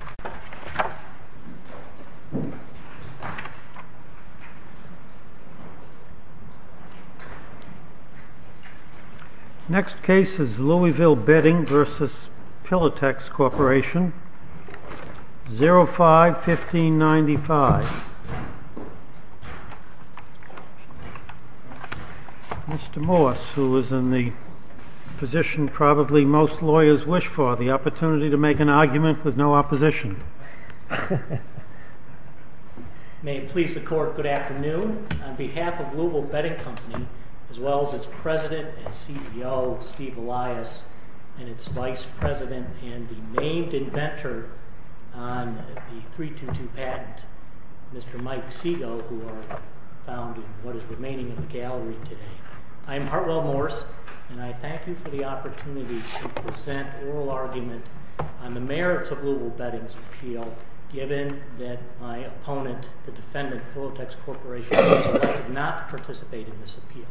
05.1595 Mr. Morse, who is in the position probably most lawyers wish for, the opportunity to make an argument with no opposition. May it please the court, good afternoon. On behalf of Louisville Bedding Company, as well as its president and CEO, Steve Elias, and its vice president and the named inventor on the 322 patent, Mr. Mike Segoe, who I found in what is remaining of the gallery today. I am Hartwell Morse, and I thank you for the merits of Louisville Bedding's appeal, given that my opponent, the defendant, Pillowtex Corporation, did not participate in this appeal.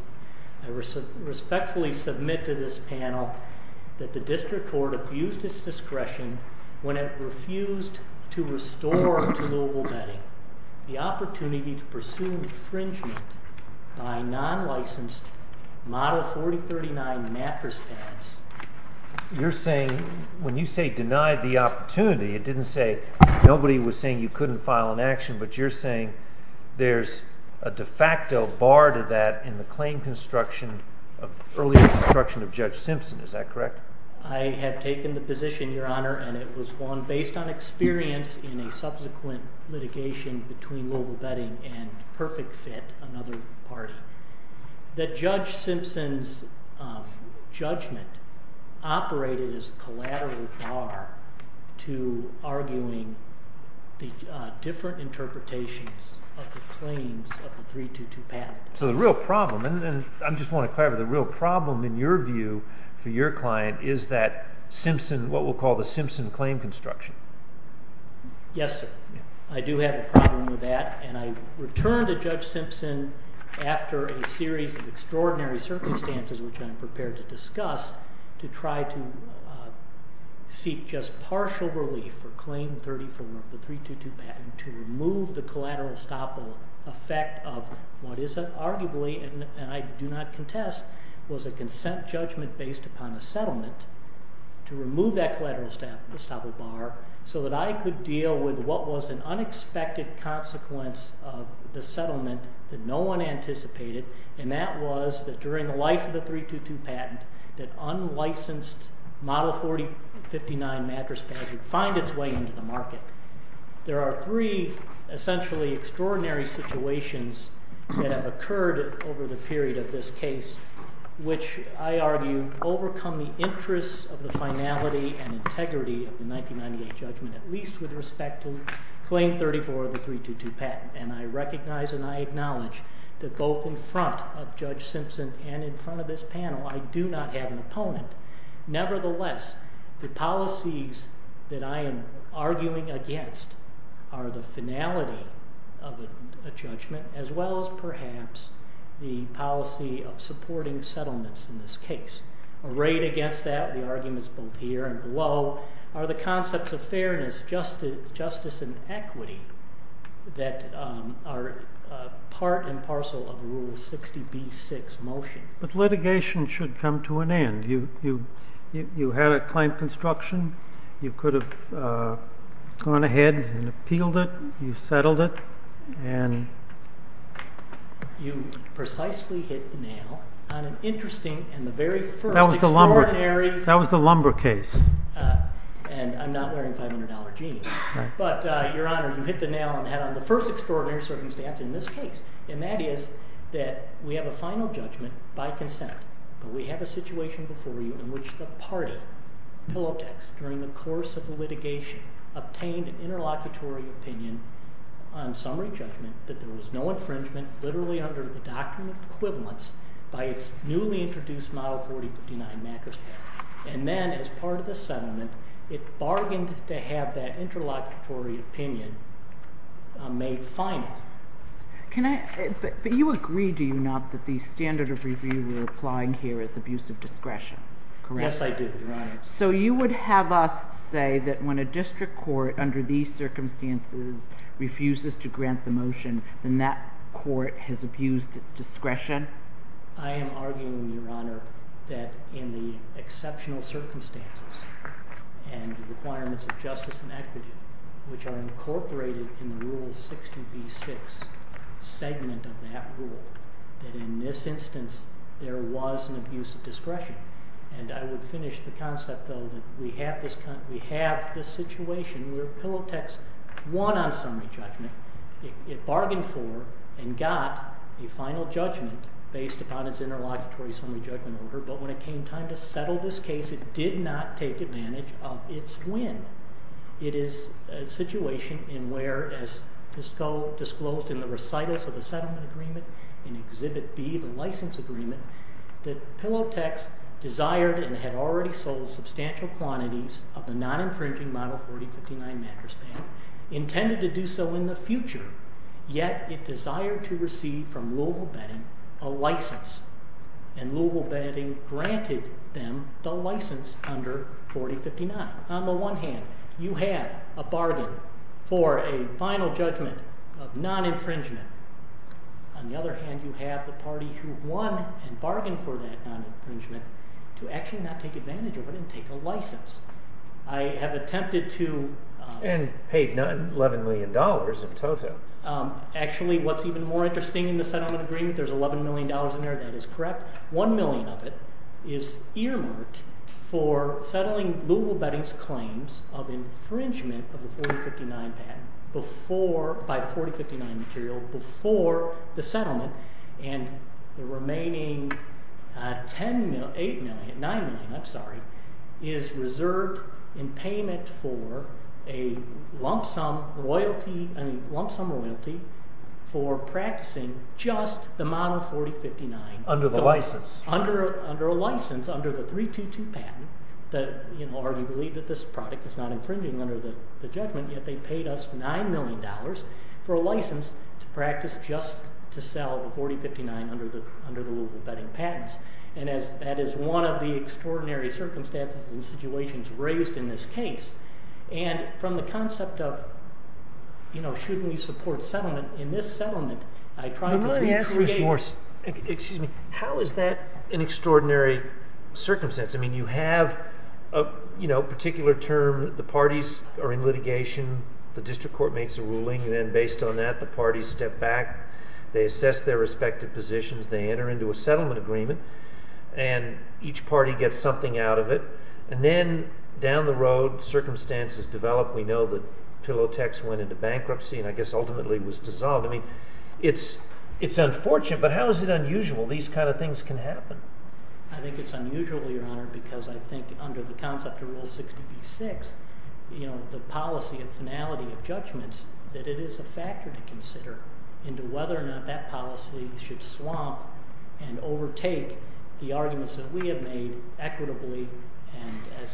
I respectfully submit to this panel that the district court abused its discretion when it refused to restore to Louisville Bedding the opportunity to pursue infringement by non-licensed Model 4039 mattress pads. You're saying, when you say denied the opportunity, it didn't say nobody was saying you couldn't file an action, but you're saying there's a de facto bar to that in the claim construction, earlier construction of Judge Simpson, is that correct? I have taken the position, Your Honor, and it was one based on experience in a subsequent litigation between Louisville Bar to arguing the different interpretations of the claims of the 322 patent. So the real problem, and I just want to clarify, the real problem, in your view, for your client, is that Simpson, what we'll call the Simpson claim construction. Yes, sir. I do have a problem with that, and I return to Judge Simpson after a series of extraordinary circumstances which I am prepared to discuss to try to seek just partial relief for claim 34 of the 322 patent to remove the collateral estoppel effect of what is arguably, and I do not contest, was a consent judgment based upon a settlement to remove that collateral estoppel bar so that I could deal with what was an unexpected consequence of the settlement that no one anticipated, and that was that during the life of the 322 patent that unlicensed model 4059 mattress pads would find its way into the market. There are three essentially extraordinary situations that have occurred over the period of this case which I argue overcome the interests of the finality and integrity of the 1998 judgment, at least with respect to claim 34 of the 322 patent, and I recognize and I acknowledge that both in front of Judge Simpson and in front of this panel, I do not have an opponent. Nevertheless, the policies that I am arguing against are the finality of a judgment as well as perhaps the policy of supporting settlements in this case. Arrayed against that, the arguments both here and that are part and parcel of Rule 60b-6 motion. But litigation should come to an end. You had a claim construction. You could have gone ahead and appealed it. You settled it. You precisely hit the nail on an interesting and the very first extraordinary... That was the lumber case. And I'm not wearing $500 jeans, but Your Honor, you hit the nail on the head on the first extraordinary circumstance in this case, and that is that we have a final judgment by consent, but we have a situation before you in which the party, Pillow Text, during the course of the litigation, obtained an interlocutory opinion on summary judgment that there was no infringement literally under the document equivalence by its newly introduced model 40-59 MACRA standard. And then as part of the settlement, it bargained to have that interlocutory opinion made final. But you agree, do you not, that the standard of review we're applying here is abuse of discretion? Yes, I do, Your Honor. So you would have us say that when a district court under these circumstances refuses to grant the motion, then that court has abused discretion? I am arguing, Your Honor, that in the exceptional circumstances and the requirements of justice and equity, which are incorporated in the Rule 16b-6 segment of that rule, that in this instance, there was an abuse of discretion. And I would finish the concept, though, that we have this situation where Pillow Text won on summary judgment. It bargained for and got a final judgment based upon its interlocutory summary judgment order. But when it came time to settle this case, it did not take advantage of its win. It is a situation in where, as disclosed in the recitals of the settlement agreement in Exhibit B, the license agreement, that Pillow Text desired and had already sold substantial quantities of the non-infringing model 40-59 MACRA standard, intended to do so in the future, yet it desired to receive from Louisville Bedding a license. And Louisville Bedding granted them the license under 40-59. On the one hand, you have a bargain for a final judgment of non-infringement. On the other hand, you have the party who won and bargained for that non-infringement to actually not take advantage of it and take a license. I have attempted And paid $11 million in total. Actually, what's even more interesting in the settlement agreement, there's $11 million in there, that is correct. One million of it is earmarked for settling Louisville Bedding's claims of infringement of the 40-59 patent by the 40-59 material before the settlement. And the remaining $9 million is reserved in payment for a lump sum royalty for practicing just the model 40-59. Under the license. Under a license, under the 3-2-2 patent, that already believed that this product is not infringing under the judgment, yet they paid us $9 million for a license to practice just to sell the 40-59 under the Louisville Bedding patents. And that is one of the extraordinary circumstances and situations raised in this case. And from the concept of, you know, shouldn't we support settlement? In this settlement, I try to... Let me ask you more. Excuse me. How is that an extraordinary circumstance? I mean, you have a, you know, particular term, the parties are in litigation, the district court makes a ruling, and then based on that, the parties step back, they assess their respective positions, they enter into a settlement agreement, and each party gets something out of it. And then down the road, circumstances develop. We know that Pillow Text went into bankruptcy and I guess ultimately was dissolved. I mean, it's unfortunate, but how is it unusual? These kind of things can happen. I think it's unusual, Your Honor, because I think under the concept of Rule 60B-6, you know, I think that it is a factor to consider into whether or not that policy should swamp and overtake the arguments that we have made equitably and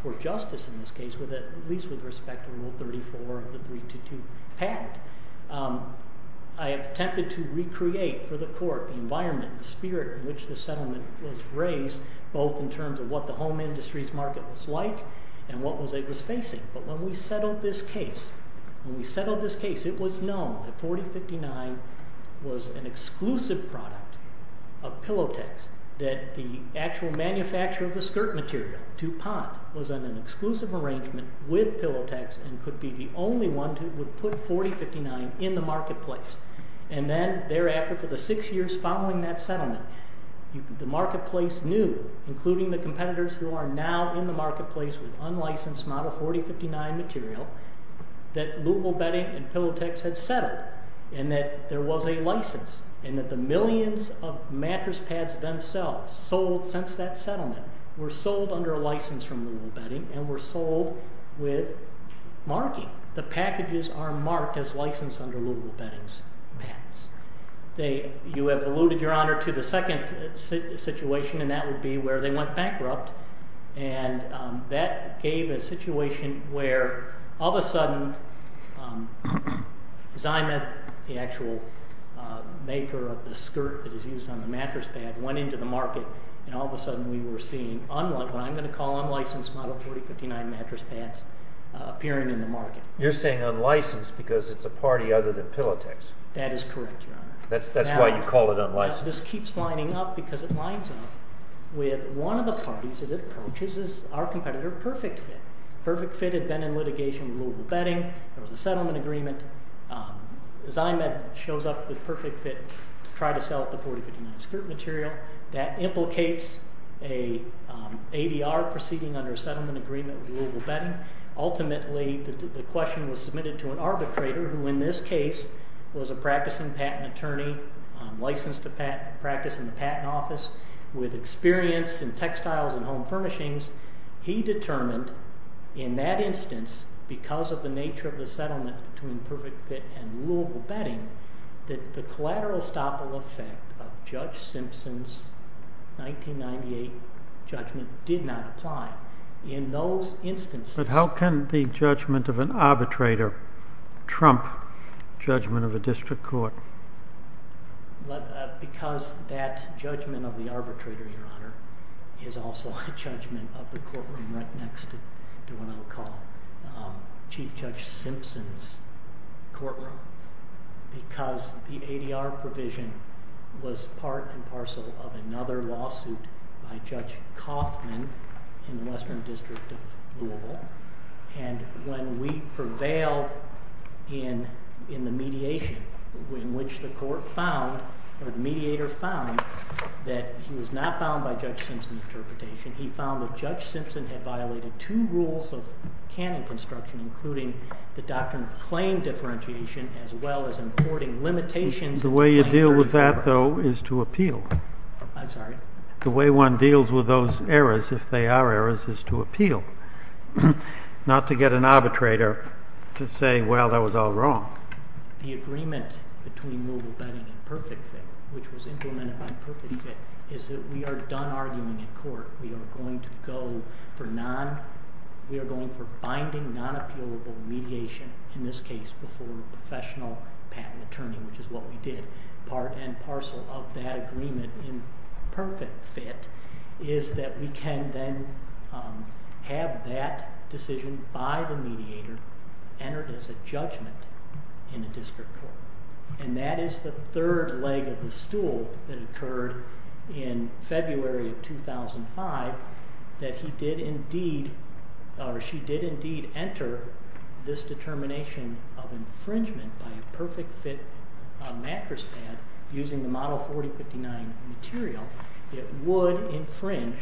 for justice in this case, at least with respect to Rule 34 of the 3-2-2 patent. I have attempted to recreate for the court the environment and spirit in which the settlement was raised, both in terms of what the home industry's market was like and what it was facing. But when we settled this case, it was known that 4059 was an exclusive product of Pillow Text, that the actual manufacturer of the skirt material, DuPont, was in an exclusive arrangement with Pillow Text and could be the only one who would put 4059 in the marketplace. And then thereafter, for the six years following that settlement, the marketplace knew, including the competitors who are now in the marketplace with unlicensed Model 4059 material, that Louisville Bedding and Pillow Text had settled and that there was a license and that the millions of mattress pads themselves sold since that settlement were sold under a license from Louisville Bedding and were sold with marking. The packages are marked as licensed under Louisville Bedding's patents. You have alluded, Your Honor, to the second situation, and that would be where they went bankrupt and that gave a situation where, all of a sudden, Zymath, the actual maker of the skirt that is used on the mattress pad, went into the market and all of a sudden we were seeing what I'm going to call unlicensed Model 4059 mattress pads appearing in the market. You're saying unlicensed because it's a party other than Pillow Text. That is correct, Your Honor. That's why you call it unlicensed. This keeps lining up because it lines up with one of the parties that it approaches is our competitor, Perfect Fit. Perfect Fit had been in litigation with Louisville Bedding. There was a settlement agreement. Zymath shows up with Perfect Fit to try to sell the 4059 skirt material. That implicates an ADR proceeding under a settlement agreement with Louisville Bedding. Ultimately, the question was submitted to an arbitrator who, in this case, was a practicing patent attorney, licensed to practice in the patent office, with experience in textiles and home furnishings. He determined, in that instance, because of the nature of the settlement between Perfect Fit and Louisville Bedding, that the collateral estoppel effect of Judge Simpson's 1998 judgment did not apply in those instances. But how can the judgment of an arbitrator trump judgment of a district court? Because that judgment of the arbitrator, Your Honor, is also a judgment of the courtroom right next to what I'll call Chief Judge Simpson's courtroom, because the ADR provision was part and parcel of another lawsuit by Judge Kaufman in the Western District of Louisville. And when we prevailed in the mediation, in which the court found, or the mediator found, that he was not bound by Judge Simpson's interpretation, he found that Judge Simpson had violated two rules of canon construction, including the doctrine of claim differentiation, as well as importing limitations of claim differentiation. The way you deal with that, though, is to appeal. I'm sorry? The way one deals with those errors, if they are errors, is to appeal, not to get an arbitrator to say, well, that was all wrong. The agreement between Louisville Bedding and Perfect Fit, which was implemented by Perfect Fit, is that we are done arguing in court. We are going to go for binding, non-appealable mediation, in this case, before a professional patent attorney, which is what we did. Part and parcel of that agreement in Perfect Fit is that we can then have that decision by the mediator entered as a judgment in a district court. And that is the third leg of the stool that occurred in February of 2005, that he did indeed, or she did indeed, enter this determination of infringement by a Perfect Fit mattress pad using the Model 4059 material. It would infringe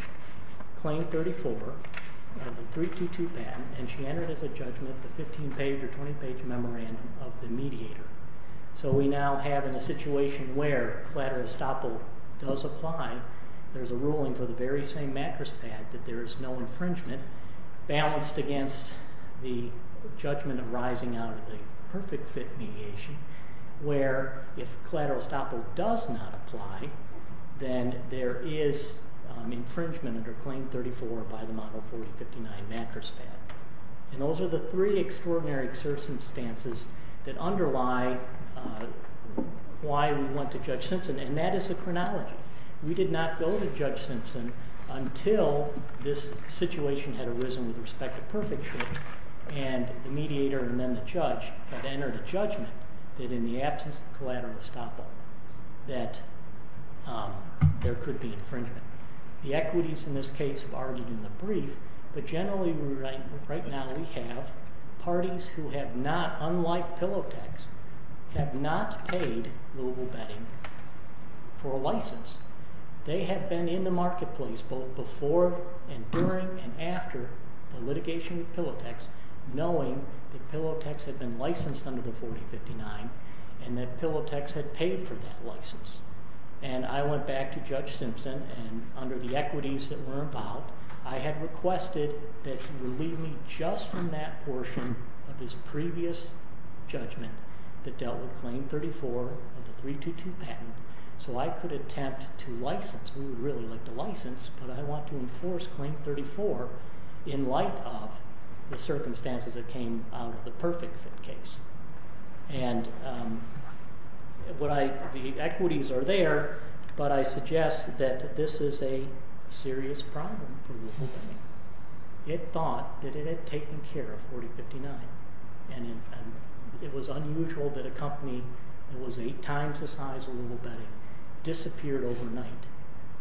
Claim 34 of the 322 patent, and she entered as a judgment the 15-page or 20-page memorandum of the mediator. So we now have in a situation where collateral estoppel does apply, there's a ruling for the very same mattress pad that there is no infringement balanced against the judgment arising out of the Perfect Fit mediation, where if collateral estoppel does not apply, then there is infringement under Claim 34 by the Model 4059 mattress pad. And those are the three extraordinary circumstances that underlie why we went to Judge Simpson, and that is a chronology. We did not go to Judge Simpson until this situation had arisen with respect to Perfect Fit, and the mediator and then the judge had entered a judgment that in the absence of collateral estoppel that there could be infringement. The equities in this case have already been debriefed, but generally right now we have parties who have not, unlike Pillowtex, have not paid Louisville Bedding for a license. They have been in the marketplace both before and during and after the litigation with Pillowtex knowing that Pillowtex had been licensed under the 4059 and that Pillowtex had paid for that license. And I went back to Judge Simpson, and under the equities that were about, I had requested that he relieve me just from that portion of his previous judgment that dealt with Claim 34 of the 322 patent so I could attempt to license. We would really like to license, but I want to enforce Claim 34 in light of the circumstances that came out of the Perfect Fit case. And the equities are there, but I suggest that this is a serious problem for Louisville Bedding. It thought that it had taken care of 4059, and it was unusual that a company that was 8 times the size of Louisville Bedding disappeared overnight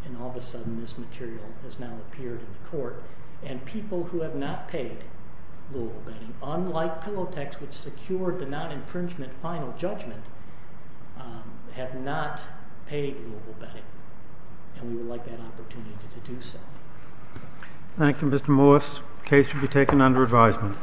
and all of a sudden this material has now appeared in court. And people who have not paid Louisville Bedding, unlike Pillowtex which secured the non-infringement final judgment, have not paid Louisville Bedding. And we would like that opportunity to do so. Thank you, Mr. Morris. Case will be taken under advisement. All rise. There are no courts in Jersey, North Carolina, and Canada.